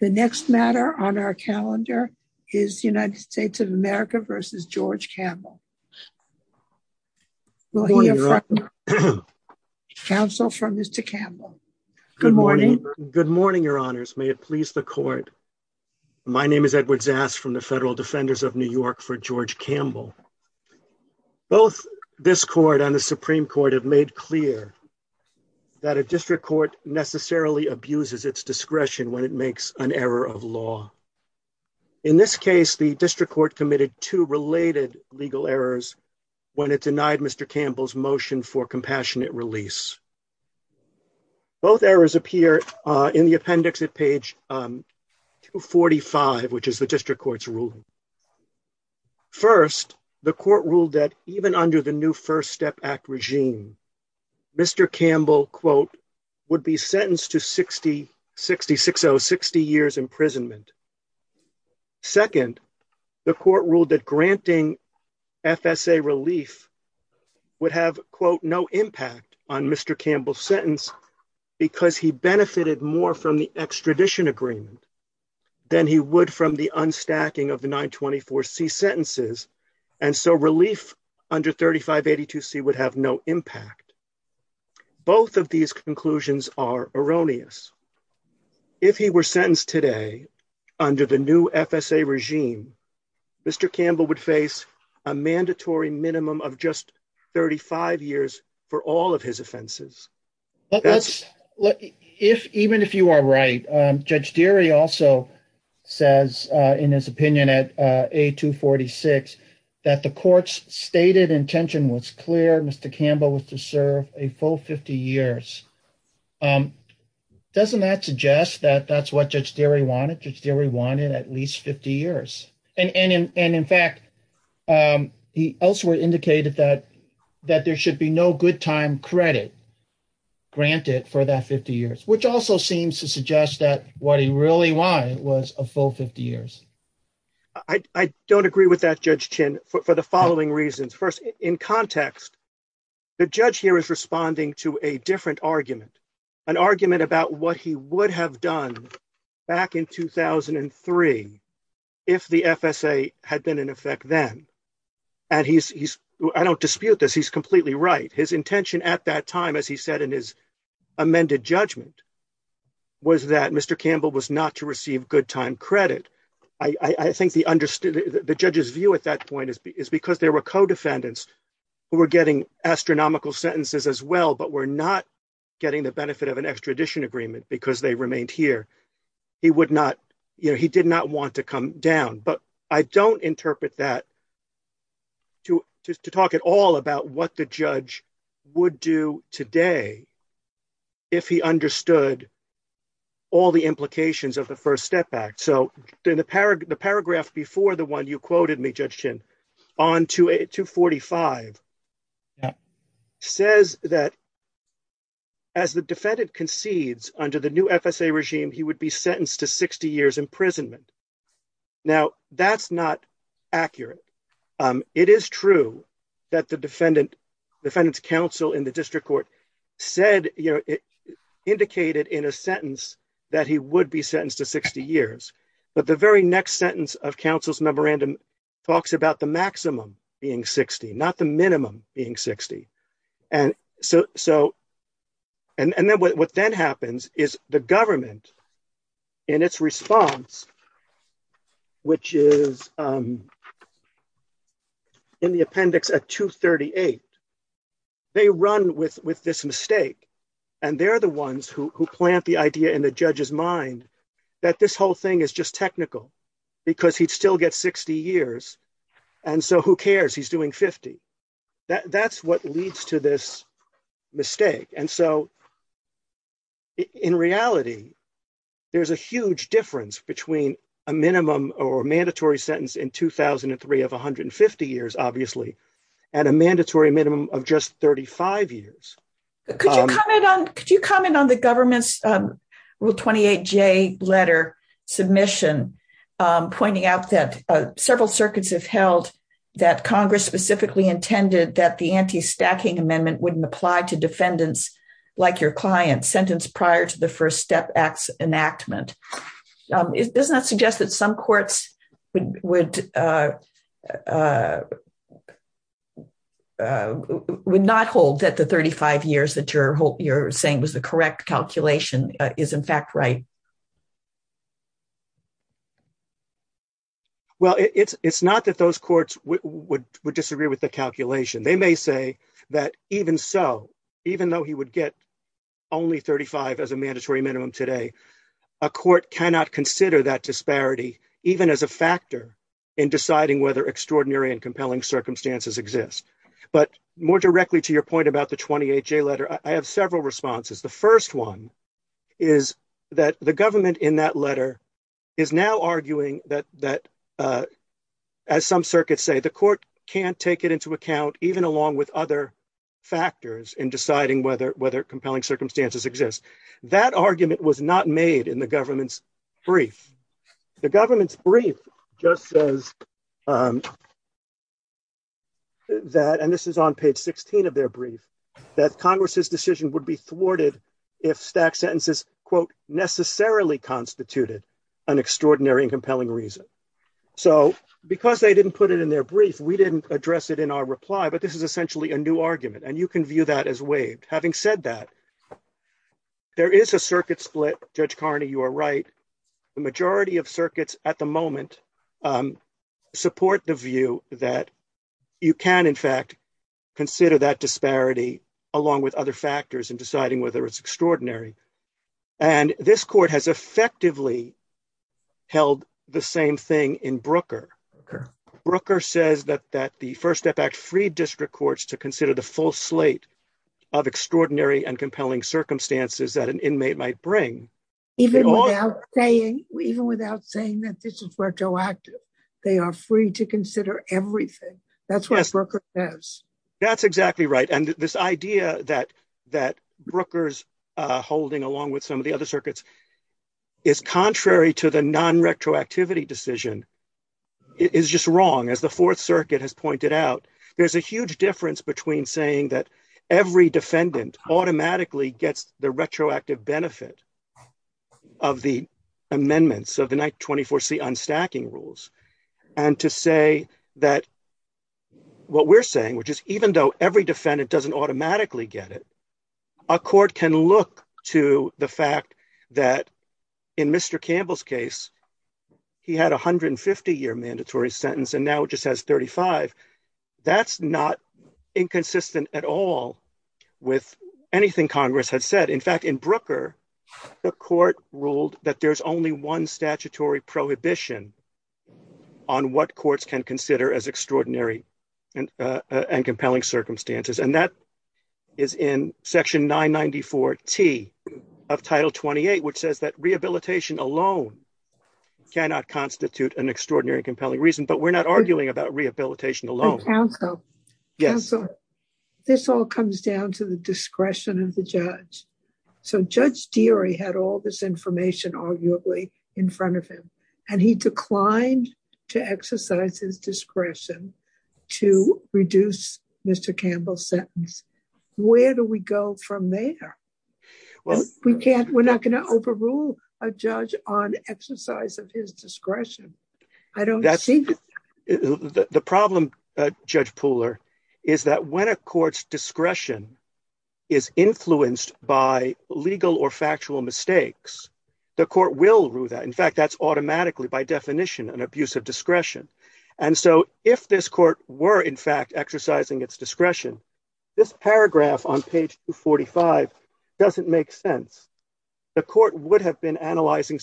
The next matter on our calendar is United States of America v. George Campbell. Counsel for Mr. Campbell. Good morning. Good morning, your honors. May it please the court. My name is Edward Zast from the Federal Defenders of New York for George Campbell. Both this court and the Supreme Court have made clear that a district court necessarily abuses its discretion when it makes an error of law. In this case, the district court committed two related legal errors when it denied Mr. Campbell's motion for compassionate release. Both errors appear in the appendix at page 245, which is the district court's ruling. First, the court ruled that even under the new First Step Act regime, Mr. Campbell, quote, would be sentenced to 60 years imprisonment. Second, the court ruled that granting FSA relief would have, quote, no impact on Mr. Campbell's sentence because he benefited more from the extradition agreement than he would from the unstacking of the 924C sentences, and so relief under 3582C would have no impact. Both of these conclusions are erroneous. If he were sentenced today under the new FSA regime, Mr. Campbell would face a mandatory minimum of just 35 years for all of his offenses. Even if you are right, Judge Deary also says in his opinion at A246 that the court's stated intention was clear. Mr. Campbell was to serve a full 50 years. Doesn't that suggest that that's what Judge Deary wanted? Judge Deary wanted at least 50 years, and in fact, he elsewhere indicated that there should be no good time credit granted for that 50 years, which also seems to suggest that what he really wanted was a full 50 years. I don't agree with that, Judge Chin, for the following reasons. First, in context, the judge here is responding to a different argument, an argument about what he would have done back in 2003 if the FSA had been in effect then, and I don't dispute this. He's completely right. His intention at that time, as he said in his amended judgment, was that Mr. Campbell was not to receive good time credit. I think the judge's view at that point is because there were co-defendants who were getting astronomical sentences as well but were not getting the benefit of an extradition agreement because they remained here. He did not want to come down, but I don't would do today if he understood all the implications of the First Step Act. So, in the paragraph before the one you quoted me, Judge Chin, on 245, says that as the defendant concedes under the new FSA regime, he would be sentenced to 60 years in the District Court. It indicated in a sentence that he would be sentenced to 60 years, but the very next sentence of counsel's memorandum talks about the maximum being 60, not the minimum being 60. What then happens is the government, in its response, which is in the appendix at 238, they run with this mistake, and they're the ones who plant the idea in the judge's mind that this whole thing is just technical because he'd still get 60 years, and so who cares? He's doing 50. That's what leads to this mistake. And so, in reality, there's a huge difference between a minimum or mandatory sentence in 2003 of 150 years, obviously, and a mandatory minimum of just 35 years. Could you comment on the government's Rule 28J letter submission pointing out that several circuits have held that Congress specifically intended that the anti-stacking amendment wouldn't apply to defendants like your client sentenced prior to the First Step Act's enactment? Does that suggest that some courts would not hold that the 35 years that you're saying was the correct calculation is, in fact, right? Well, it's not that those courts would disagree with the calculation. They may say that even so, even though he would get only 35 as a mandatory minimum today, a court cannot consider that disparity even as a factor in deciding whether extraordinary and compelling circumstances exist. But more directly to your point about the 28J letter, I have several responses. The first one is that the government in that letter is now arguing that, as some circuits say, the court can't take it into account even along with other factors in deciding whether compelling circumstances exist. That argument was not made in the government's brief. The government's brief just says that, and this is on page 16 of their brief, that Congress's decision would be thwarted if stacked sentences, quote, necessarily constituted an extraordinary and compelling reason. So because they didn't put it in their brief, we didn't address it in our reply, but this is essentially a new argument, and you can view that as waived. Having said that, there is a circuit split. Judge Carney, you are right. The majority of circuits at the moment support the view that you can, in fact, consider that disparity along with other factors in deciding whether it's in Brooker. Brooker says that the First Step Act freed district courts to consider the full slate of extraordinary and compelling circumstances that an inmate might bring. Even without saying that this is retroactive, they are free to consider everything. That's what Brooker says. That's exactly right, and this idea that Brooker's holding along with some of the is just wrong. As the Fourth Circuit has pointed out, there's a huge difference between saying that every defendant automatically gets the retroactive benefit of the amendments of the 24C unstacking rules, and to say that what we're saying, which is even though every defendant doesn't automatically get it, a court can look to the fact that in Mr. Campbell's case, he had a 150-year mandatory sentence and now just has 35. That's not inconsistent at all with anything Congress had said. In fact, in Brooker, the court ruled that there's only one statutory prohibition on what courts can consider as extraordinary and compelling cannot constitute an extraordinary and compelling reason, but we're not arguing about rehabilitation alone. Counsel, this all comes down to the discretion of the judge. So Judge Deary had all this information arguably in front of him, and he declined to exercise his discretion to reduce Mr. Campbell's sentence. Where do we go from there? We're not going to rule a judge on exercise of his discretion. The problem, Judge Pooler, is that when a court's discretion is influenced by legal or factual mistakes, the court will rule that. In fact, that's automatically by definition an abuse of discretion, and so if this court were in fact analyzing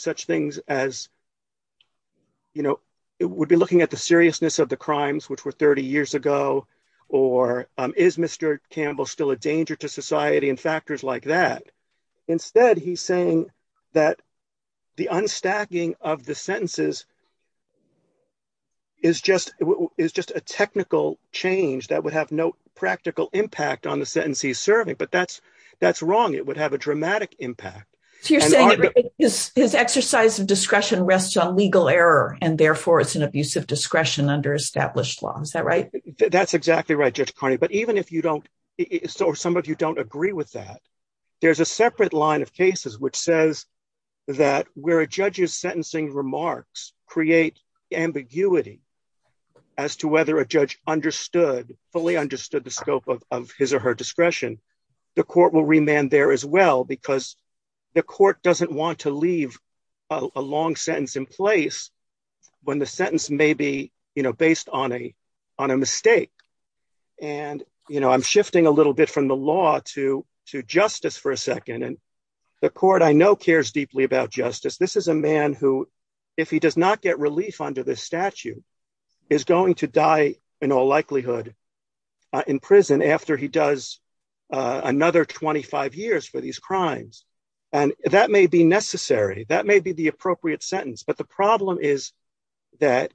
such things as, you know, it would be looking at the seriousness of the crimes, which were 30 years ago, or is Mr. Campbell still a danger to society and factors like that? Instead, he's saying that the unstacking of the sentences is just a technical change that would have no practical impact on the sentence he's serving, but that's wrong. It would have a his exercise of discretion rests on legal error, and therefore it's an abuse of discretion under established law. Is that right? That's exactly right, Judge Carney, but even if you don't, or some of you don't agree with that, there's a separate line of cases which says that where a judge's sentencing remarks create ambiguity as to whether a judge understood, fully understood the scope of his or her discretion, the court will remand there as because the court doesn't want to leave a long sentence in place when the sentence may be, you know, based on a mistake, and, you know, I'm shifting a little bit from the law to justice for a second, and the court I know cares deeply about justice. This is a man who, if he does not get relief under this statute, is going to die in all likelihood in prison after he has served 25 years for these crimes, and that may be necessary. That may be the appropriate sentence, but the problem is that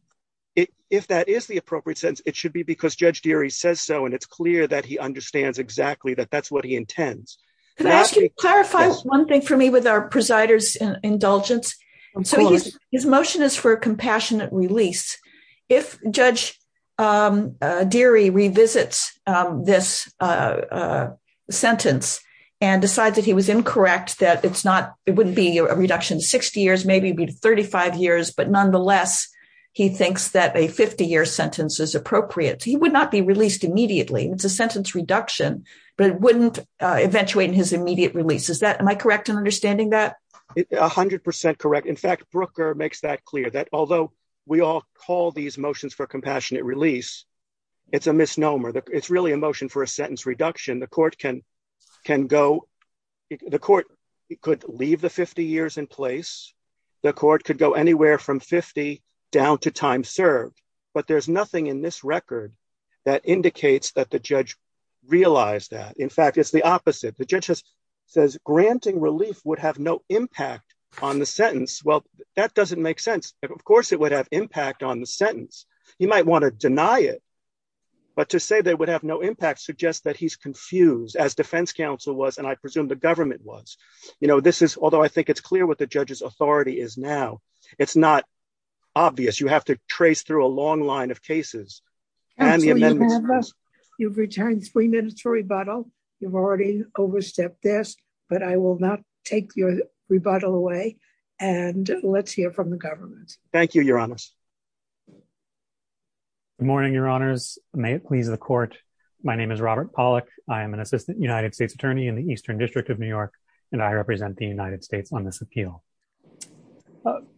if that is the appropriate sentence, it should be because Judge Deary says so, and it's clear that he understands exactly that that's what he intends. Can I ask you to clarify one thing for me with our presider's indulgence? His motion is for decides that he was incorrect, that it's not, it wouldn't be a reduction 60 years, maybe it'd be 35 years, but nonetheless, he thinks that a 50-year sentence is appropriate. He would not be released immediately. It's a sentence reduction, but it wouldn't eventuate in his immediate release. Is that, am I correct in understanding that? A hundred percent correct. In fact, Brooker makes that clear, that although we all call these motions for compassionate release, it's a misnomer. It's really a motion for a sentence reduction. The court could leave the 50 years in place. The court could go anywhere from 50 down to time served, but there's nothing in this record that indicates that the judge realized that. In fact, it's the opposite. The judge says granting relief would have no impact on the sentence. Well, that doesn't make sense. Of course, it would have impact on the sentence. He might want to deny it, but to say they would have no impact suggests that he's confused as defense counsel was, and I presume the government was. This is, although I think it's clear what the judge's authority is now, it's not obvious. You have to trace through a long line of cases. You've returned three minutes for rebuttal. You've already overstepped this, but I will not take your rebuttal away and let's hear from the government. Thank you, your honors. Good morning, your honors. May it please the court. My name is Robert Pollack. I am an assistant United States attorney in the Eastern District of New York, and I represent the United States on this appeal.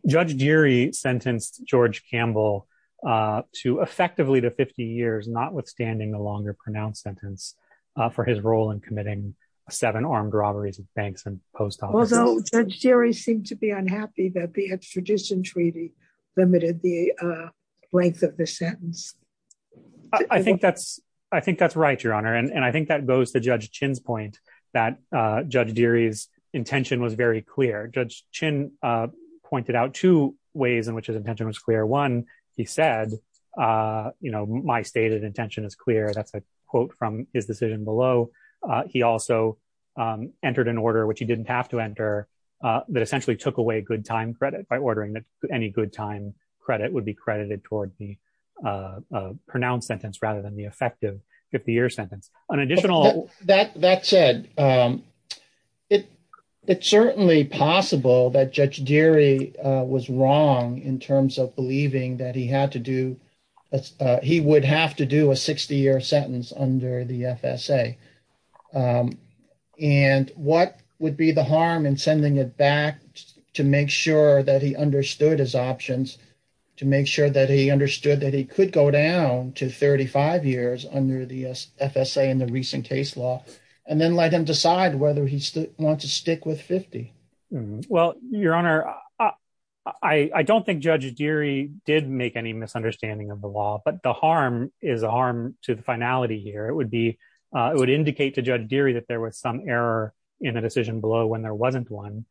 Judge Geary sentenced George Campbell to effectively the 50 years, not withstanding the longer pronounced sentence for his role in committing seven armed robberies of treaty limited the length of the sentence. I think that's right, your honor, and I think that goes to Judge Chin's point that Judge Geary's intention was very clear. Judge Chin pointed out two ways in which his intention was clear. One, he said, my stated intention is clear. That's a quote from his decision below. He also entered an order, which he didn't have to enter, that essentially took away good time credit by ordering that any good time credit would be credited toward the pronounced sentence rather than the effective 50 year sentence. An additional- That said, it's certainly possible that Judge Geary was wrong in terms of believing that he had to do, he would have to do a 60 year sentence under the FSA. And what would be the harm in back to make sure that he understood his options, to make sure that he understood that he could go down to 35 years under the FSA in the recent case law, and then let him decide whether he wants to stick with 50? Well, your honor, I don't think Judge Geary did make any misunderstanding of the law, but the harm is a harm to the finality here. It would indicate to Judge Geary that there was some error in a decision below when there wasn't one.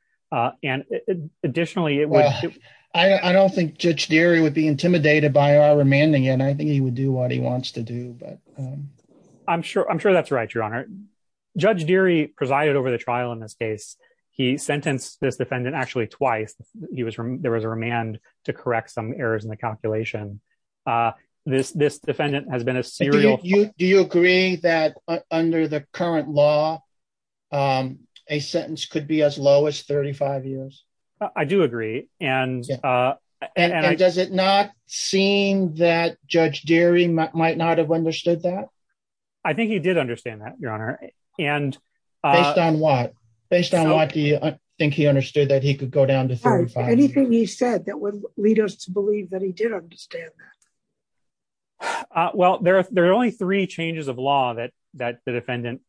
And additionally, I don't think Judge Geary would be intimidated by our remanding, and I think he would do what he wants to do. But I'm sure that's right, your honor. Judge Geary presided over the trial in this case. He sentenced this defendant actually twice. There was a remand to correct some errors in the calculation. This defendant has been a serial. Do you agree that under the current law, a sentence could be as low as 35 years? I do agree. And does it not seem that Judge Geary might not have understood that? I think he did understand that, your honor. Based on what? Based on what do you think he understood that he could go down to 35 years? Anything he said that would lead us to believe that he did understand that? Well, there are only three changes of law that the defendant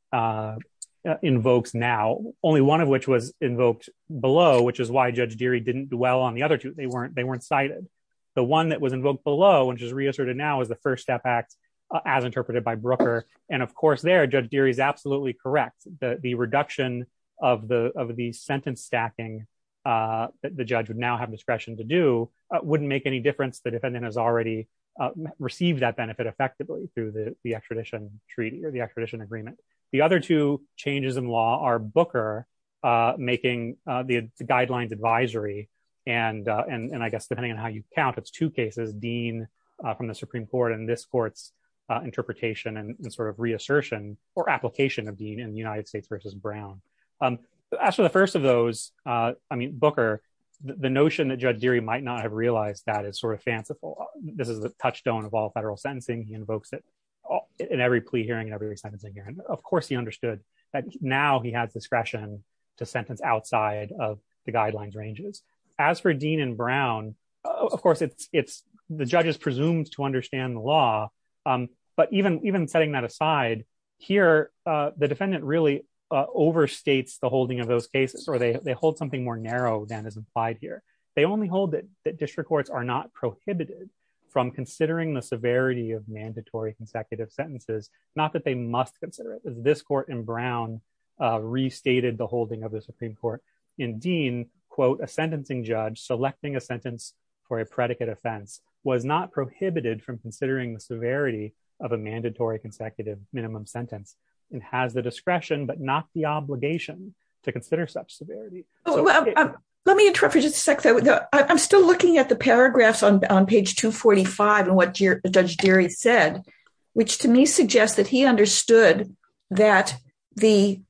invokes now, only one of which was invoked below, which is why Judge Geary didn't dwell on the other two. They weren't cited. The one that was invoked below, which is reasserted now, is the First Step Act, as interpreted by Brooker. And of course there, Judge Geary is absolutely correct. The reduction of the sentence stacking that the judge would now have discretion to do wouldn't make any difference. The defendant has already received that benefit effectively through the extradition treaty or the extradition agreement. The other two changes in law are Booker making the guidelines advisory. And I guess depending on how you count, it's two cases, Dean from the Supreme Court and this court's interpretation and sort of reassertion or application of Dean in the United States versus Brown. As for the first of those, I mean, Booker, the notion that Judge Geary might not have realized that is sort of fanciful. This is the touchstone of all federal sentencing. He invokes it in every plea hearing and every sentencing hearing. Of course, he understood that now he has discretion to sentence outside of the guidelines ranges. As for Dean and Brown, of course, the judge is presumed to understand the law. But even setting that aside here, the defendant really overstates the holding of those cases, or they hold something more narrow than is implied here. They only hold that district courts are not prohibited from considering the severity of mandatory consecutive sentences, not that they must consider it. This court in Brown restated the holding of the Supreme Court in Dean, quote, a sentencing judge selecting a sentence for a predicate offense was not prohibited from considering the severity of a mandatory consecutive minimum sentence and has the discretion, but not the obligation to consider such severity. Let me interrupt for just a second. I'm still looking at the paragraphs on page 245 and what Judge Geary said, which to me suggests that he understood that the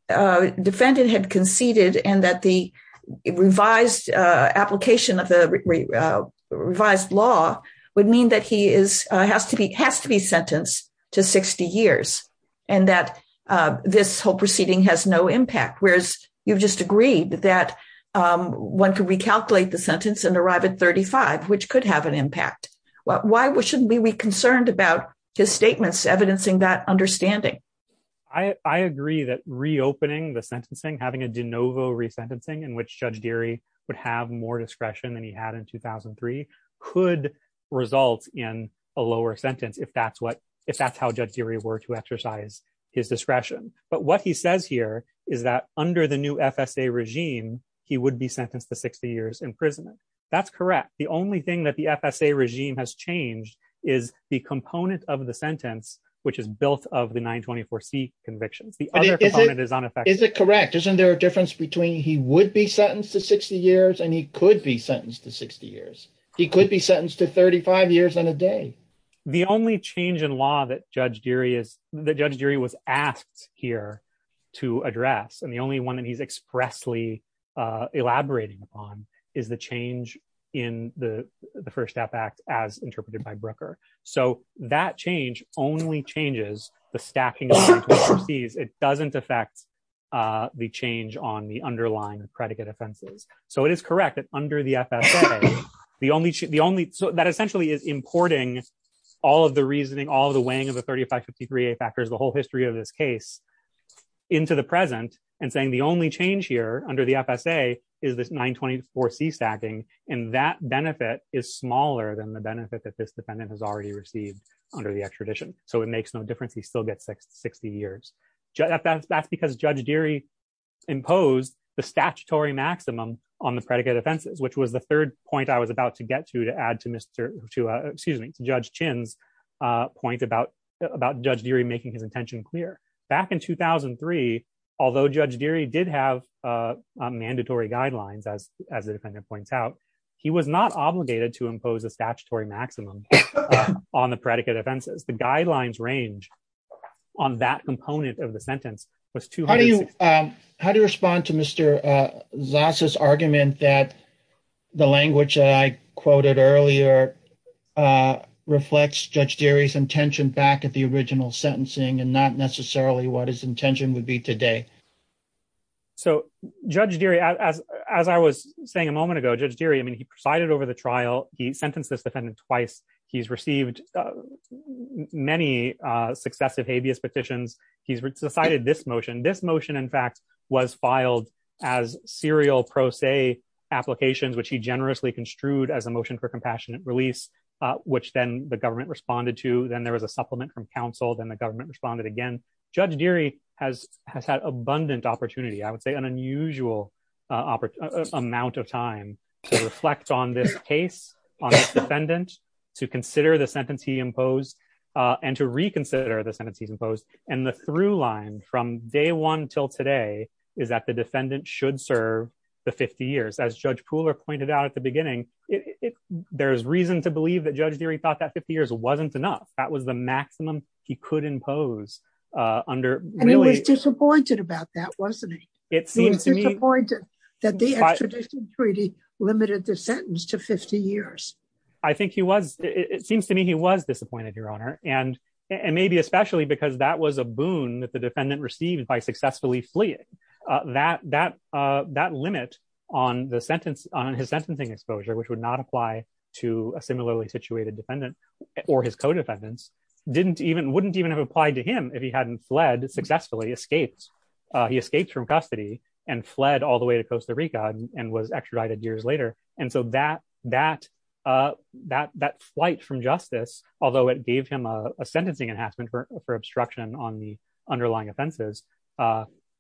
defendant had conceded and that the revised application of the revised law would that he is has to be has to be sentenced to 60 years, and that this whole proceeding has no impact, whereas you've just agreed that one could recalculate the sentence and arrive at 35, which could have an impact. Why shouldn't we be concerned about his statements evidencing that understanding? I agree that reopening the sentencing, having a de novo resentencing in which Judge Geary would have more discretion than he had in 2003 could result in a lower sentence, if that's what if that's how Judge Geary were to exercise his discretion. But what he says here is that under the new FSA regime, he would be sentenced to 60 years imprisonment. That's correct. The only thing that the FSA regime has changed is the component of the sentence, which is built of the 924c convictions. The other component is on effect. Is it correct? Isn't there a difference between he would be sentenced to 60 years and he could be sentenced to 60 years? He could be sentenced to 35 years and a day. The only change in law that Judge Geary is, that Judge Geary was asked here to address, and the only one that he's expressly elaborating upon, is the change in the the First Step Act as interpreted by Brooker. So that change only changes the stacking of 924c's. It doesn't affect the change on the underlying predicate offenses. So it is correct that under the FSA, the only, the only, so that essentially is importing all of the reasoning, all the weighing of the 3553a factors, the whole history of this case, into the present and saying the only change here under the FSA is this 924c stacking, and that benefit is smaller than the benefit that this defendant has already received under the extradition. So it makes no difference he still gets 60 years. That's because Judge Geary imposed the statutory maximum on the predicate offenses, which was the third point I was about to get to, to add to Mr., to excuse me, to Judge Chin's point about, about Judge Geary making his intention clear. Back in 2003, although Judge Geary did have mandatory guidelines, as, as the defendant points out, he was not obligated to impose a statutory maximum on the predicate offenses. The guidelines range on that component of the sentence was 260. How do you, how do you respond to Mr. Zas's argument that the language that I quoted earlier reflects Judge Geary's intention back at the original sentencing and not necessarily what his intention would be today? So Judge Geary, as, as I was saying a moment ago, Judge Geary, I mean, he presided over the trial. He sentenced this defendant twice. He's received many successive habeas petitions. He's decided this motion, this motion, in fact, was filed as serial pro se applications, which he generously construed as a motion for compassionate release, which then the government responded to. Then there was a supplement from counsel. Then the government responded again. Judge Geary has, has had abundant opportunity. I would say an opportunity to reflect on this case, on this defendant, to consider the sentence he imposed, and to reconsider the sentence he's imposed. And the through line from day one till today is that the defendant should serve the 50 years. As Judge Pooler pointed out at the beginning, there's reason to believe that Judge Geary thought that 50 years wasn't enough. That was the maximum he could impose under- And he was disappointed about that, wasn't he? It seems to me- He was disappointed that the extradition treaty limited the sentence to 50 years. I think he was, it seems to me he was disappointed, Your Honor. And, and maybe especially because that was a boon that the defendant received by successfully fleeing. That, that, that limit on the sentence, on his sentencing exposure, which would not apply to a similarly situated defendant or his co-defendants, didn't even, wouldn't even have applied to him if he hadn't fled successfully, escaped. He escaped from custody and fled all the way to Costa Rica and was extradited years later. And so that, that, that, that flight from justice, although it gave him a sentencing enhancement for, for obstruction on the underlying offenses,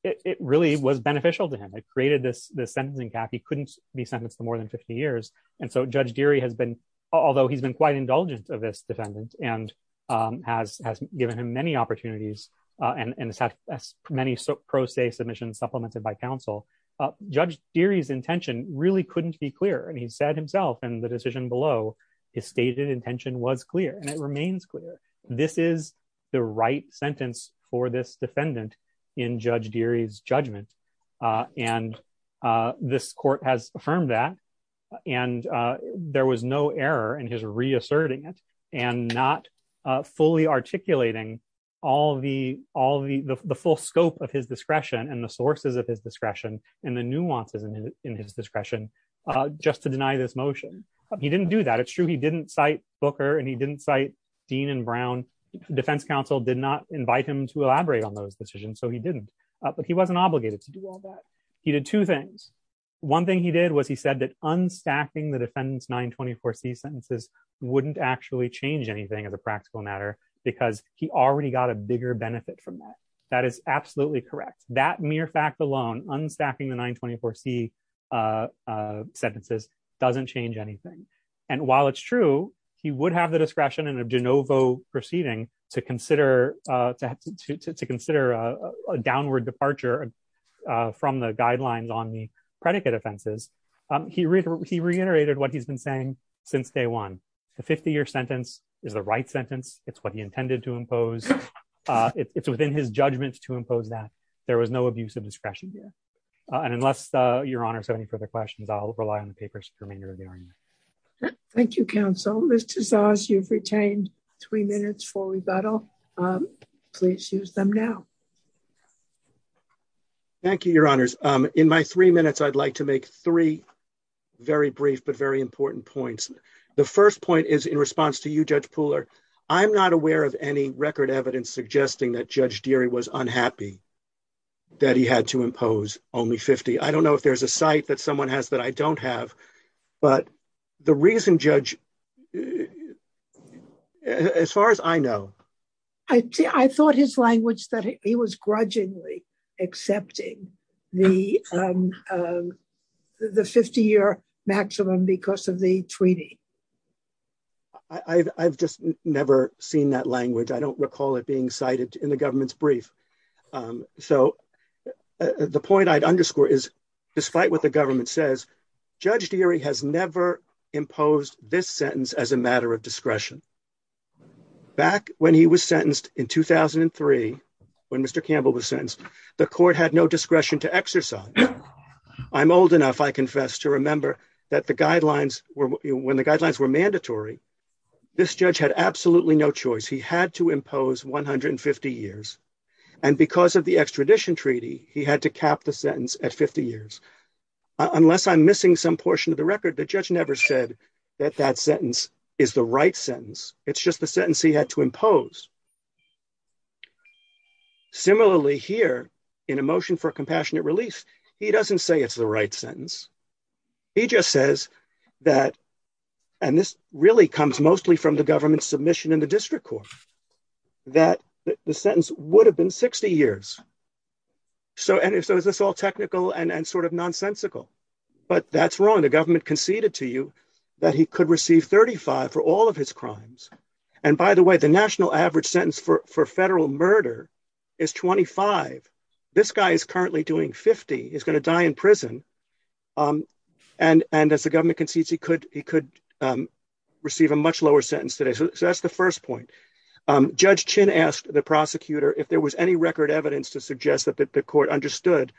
it really was beneficial to him. It created this, this sentencing gap. He couldn't be sentenced to more than 50 years. And so Judge Geary has been, although he's been quite indulgent of this defendant and has, has given him many opportunities and has had many pro se submissions supplemented by counsel, Judge Geary's intention really couldn't be clearer. And he said himself in the decision below, his stated intention was clear and it remains clear. This is the right sentence for this defendant in Judge Geary's judgment. And this court has affirmed that and there was no error in his reasserting it and not fully articulating all the, all the, the full scope of his discretion and the sources of his discretion and the nuances in his discretion just to deny this motion. He didn't do that. It's true. He didn't cite Booker and he didn't cite Dean and Brown. Defense counsel did not invite him to do all that. He did two things. One thing he did was he said that unstacking the defendant's 924C sentences wouldn't actually change anything as a practical matter because he already got a bigger benefit from that. That is absolutely correct. That mere fact alone, unstacking the 924C sentences doesn't change anything. And while it's true, he would have the discretion in a from the guidelines on the predicate offenses. He reiterated what he's been saying since day one. The 50-year sentence is the right sentence. It's what he intended to impose. It's within his judgment to impose that. There was no abuse of discretion here. And unless your honors have any further questions, I'll rely on the papers for remainder of the argument. Thank you, counsel. Ms. Tazaas, you've retained three minutes for rebuttal. Please use them now. Thank you, your honors. In my three minutes, I'd like to make three very brief but very important points. The first point is in response to you, Judge Pooler, I'm not aware of any record evidence suggesting that Judge Deary was unhappy that he had to impose only 50. I don't know if there's a site that someone has that I don't have, but the reason, Judge, as far as I know... I thought his language that he was grudgingly accepting the 50-year maximum because of the treaty. I've just never seen that language. I don't recall it being cited in the government's brief. So the point I'd underscore is despite what the government says, Judge Deary has never imposed this sentence as a matter of discretion. Back when he was sentenced in 2003, when Mr. Campbell was sentenced, the court had no discretion to exercise. I'm old enough, I confess, to remember that when the guidelines were mandatory, this judge had absolutely no choice. He had to impose 150 years. And because of the extradition treaty, he had to cap the sentence at 50 years. Unless I'm missing some portion of the record, the judge never said that that sentence is the right sentence. It's just the sentence he had to impose. Similarly here, in a motion for compassionate release, he doesn't say it's the right sentence. He just says that, and this really comes mostly from the government's submission in the district court, that the sentence would have been 60 years. So is this all technical and sort of nonsensical? But that's wrong. The government conceded to you that he could receive 35 for all of his crimes. And by the way, the national average sentence for federal murder is 25. This guy is currently doing 50. He's going to die in prison. And as the government concedes, he could receive a much lower sentence today. So that's the first point. Judge Chin asked the prosecutor if there was any record evidence to suggest that the court understood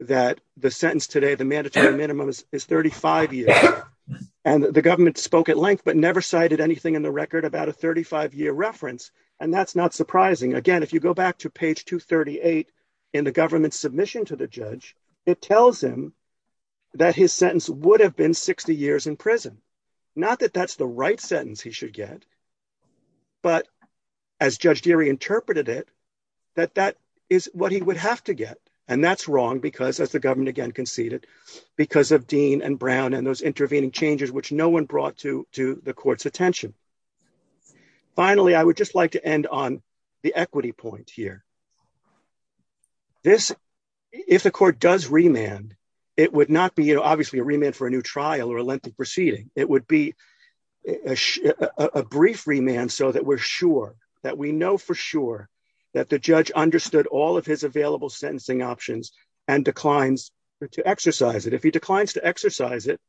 that the sentence today, the mandatory minimum, is 35 years. And the government spoke at length, but never cited anything in the record about a 35-year reference. And that's not surprising. Again, if you go back to page 238 in the government's submission to the judge, it tells him that his sentence would have been 60 years in prison. Not that that's the right sentence he should get, but as Judge Deary interpreted it, that that is what he would have to get. And that's wrong because, as the government again conceded, because of Dean and Brown and those intervening changes which no one brought to the court's attention. Finally, I would just like to end on the equity point here. If the court does remand, it would not be, obviously, a remand for a new trial or a lengthy proceeding. It would be a brief remand so that we're sure, that we know for sure, that the judge understood all of his available sentencing options and declines to exercise it. If he declines to exercise it,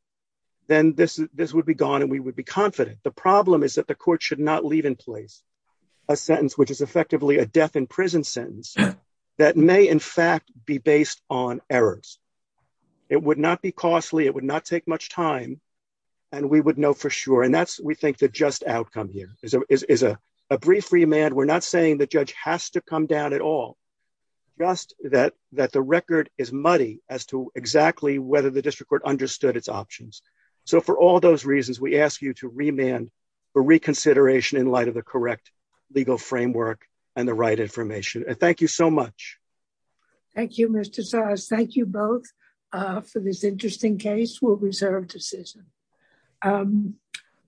then this would be gone and we would be confident. The problem is that the court should not leave in place a sentence which is effectively a death in prison sentence that may, in fact, be based on errors. It would not be costly, it would not take much time, and we would know for sure. And that's, we think, the just outcome here is a brief remand. We're not saying the judge has to come down at all, just that the record is muddy as to exactly whether the for all those reasons, we ask you to remand for reconsideration in light of the correct legal framework and the right information. Thank you so much. Thank you, Mr. Sars. Thank you both for this interesting case. We'll reserve decision.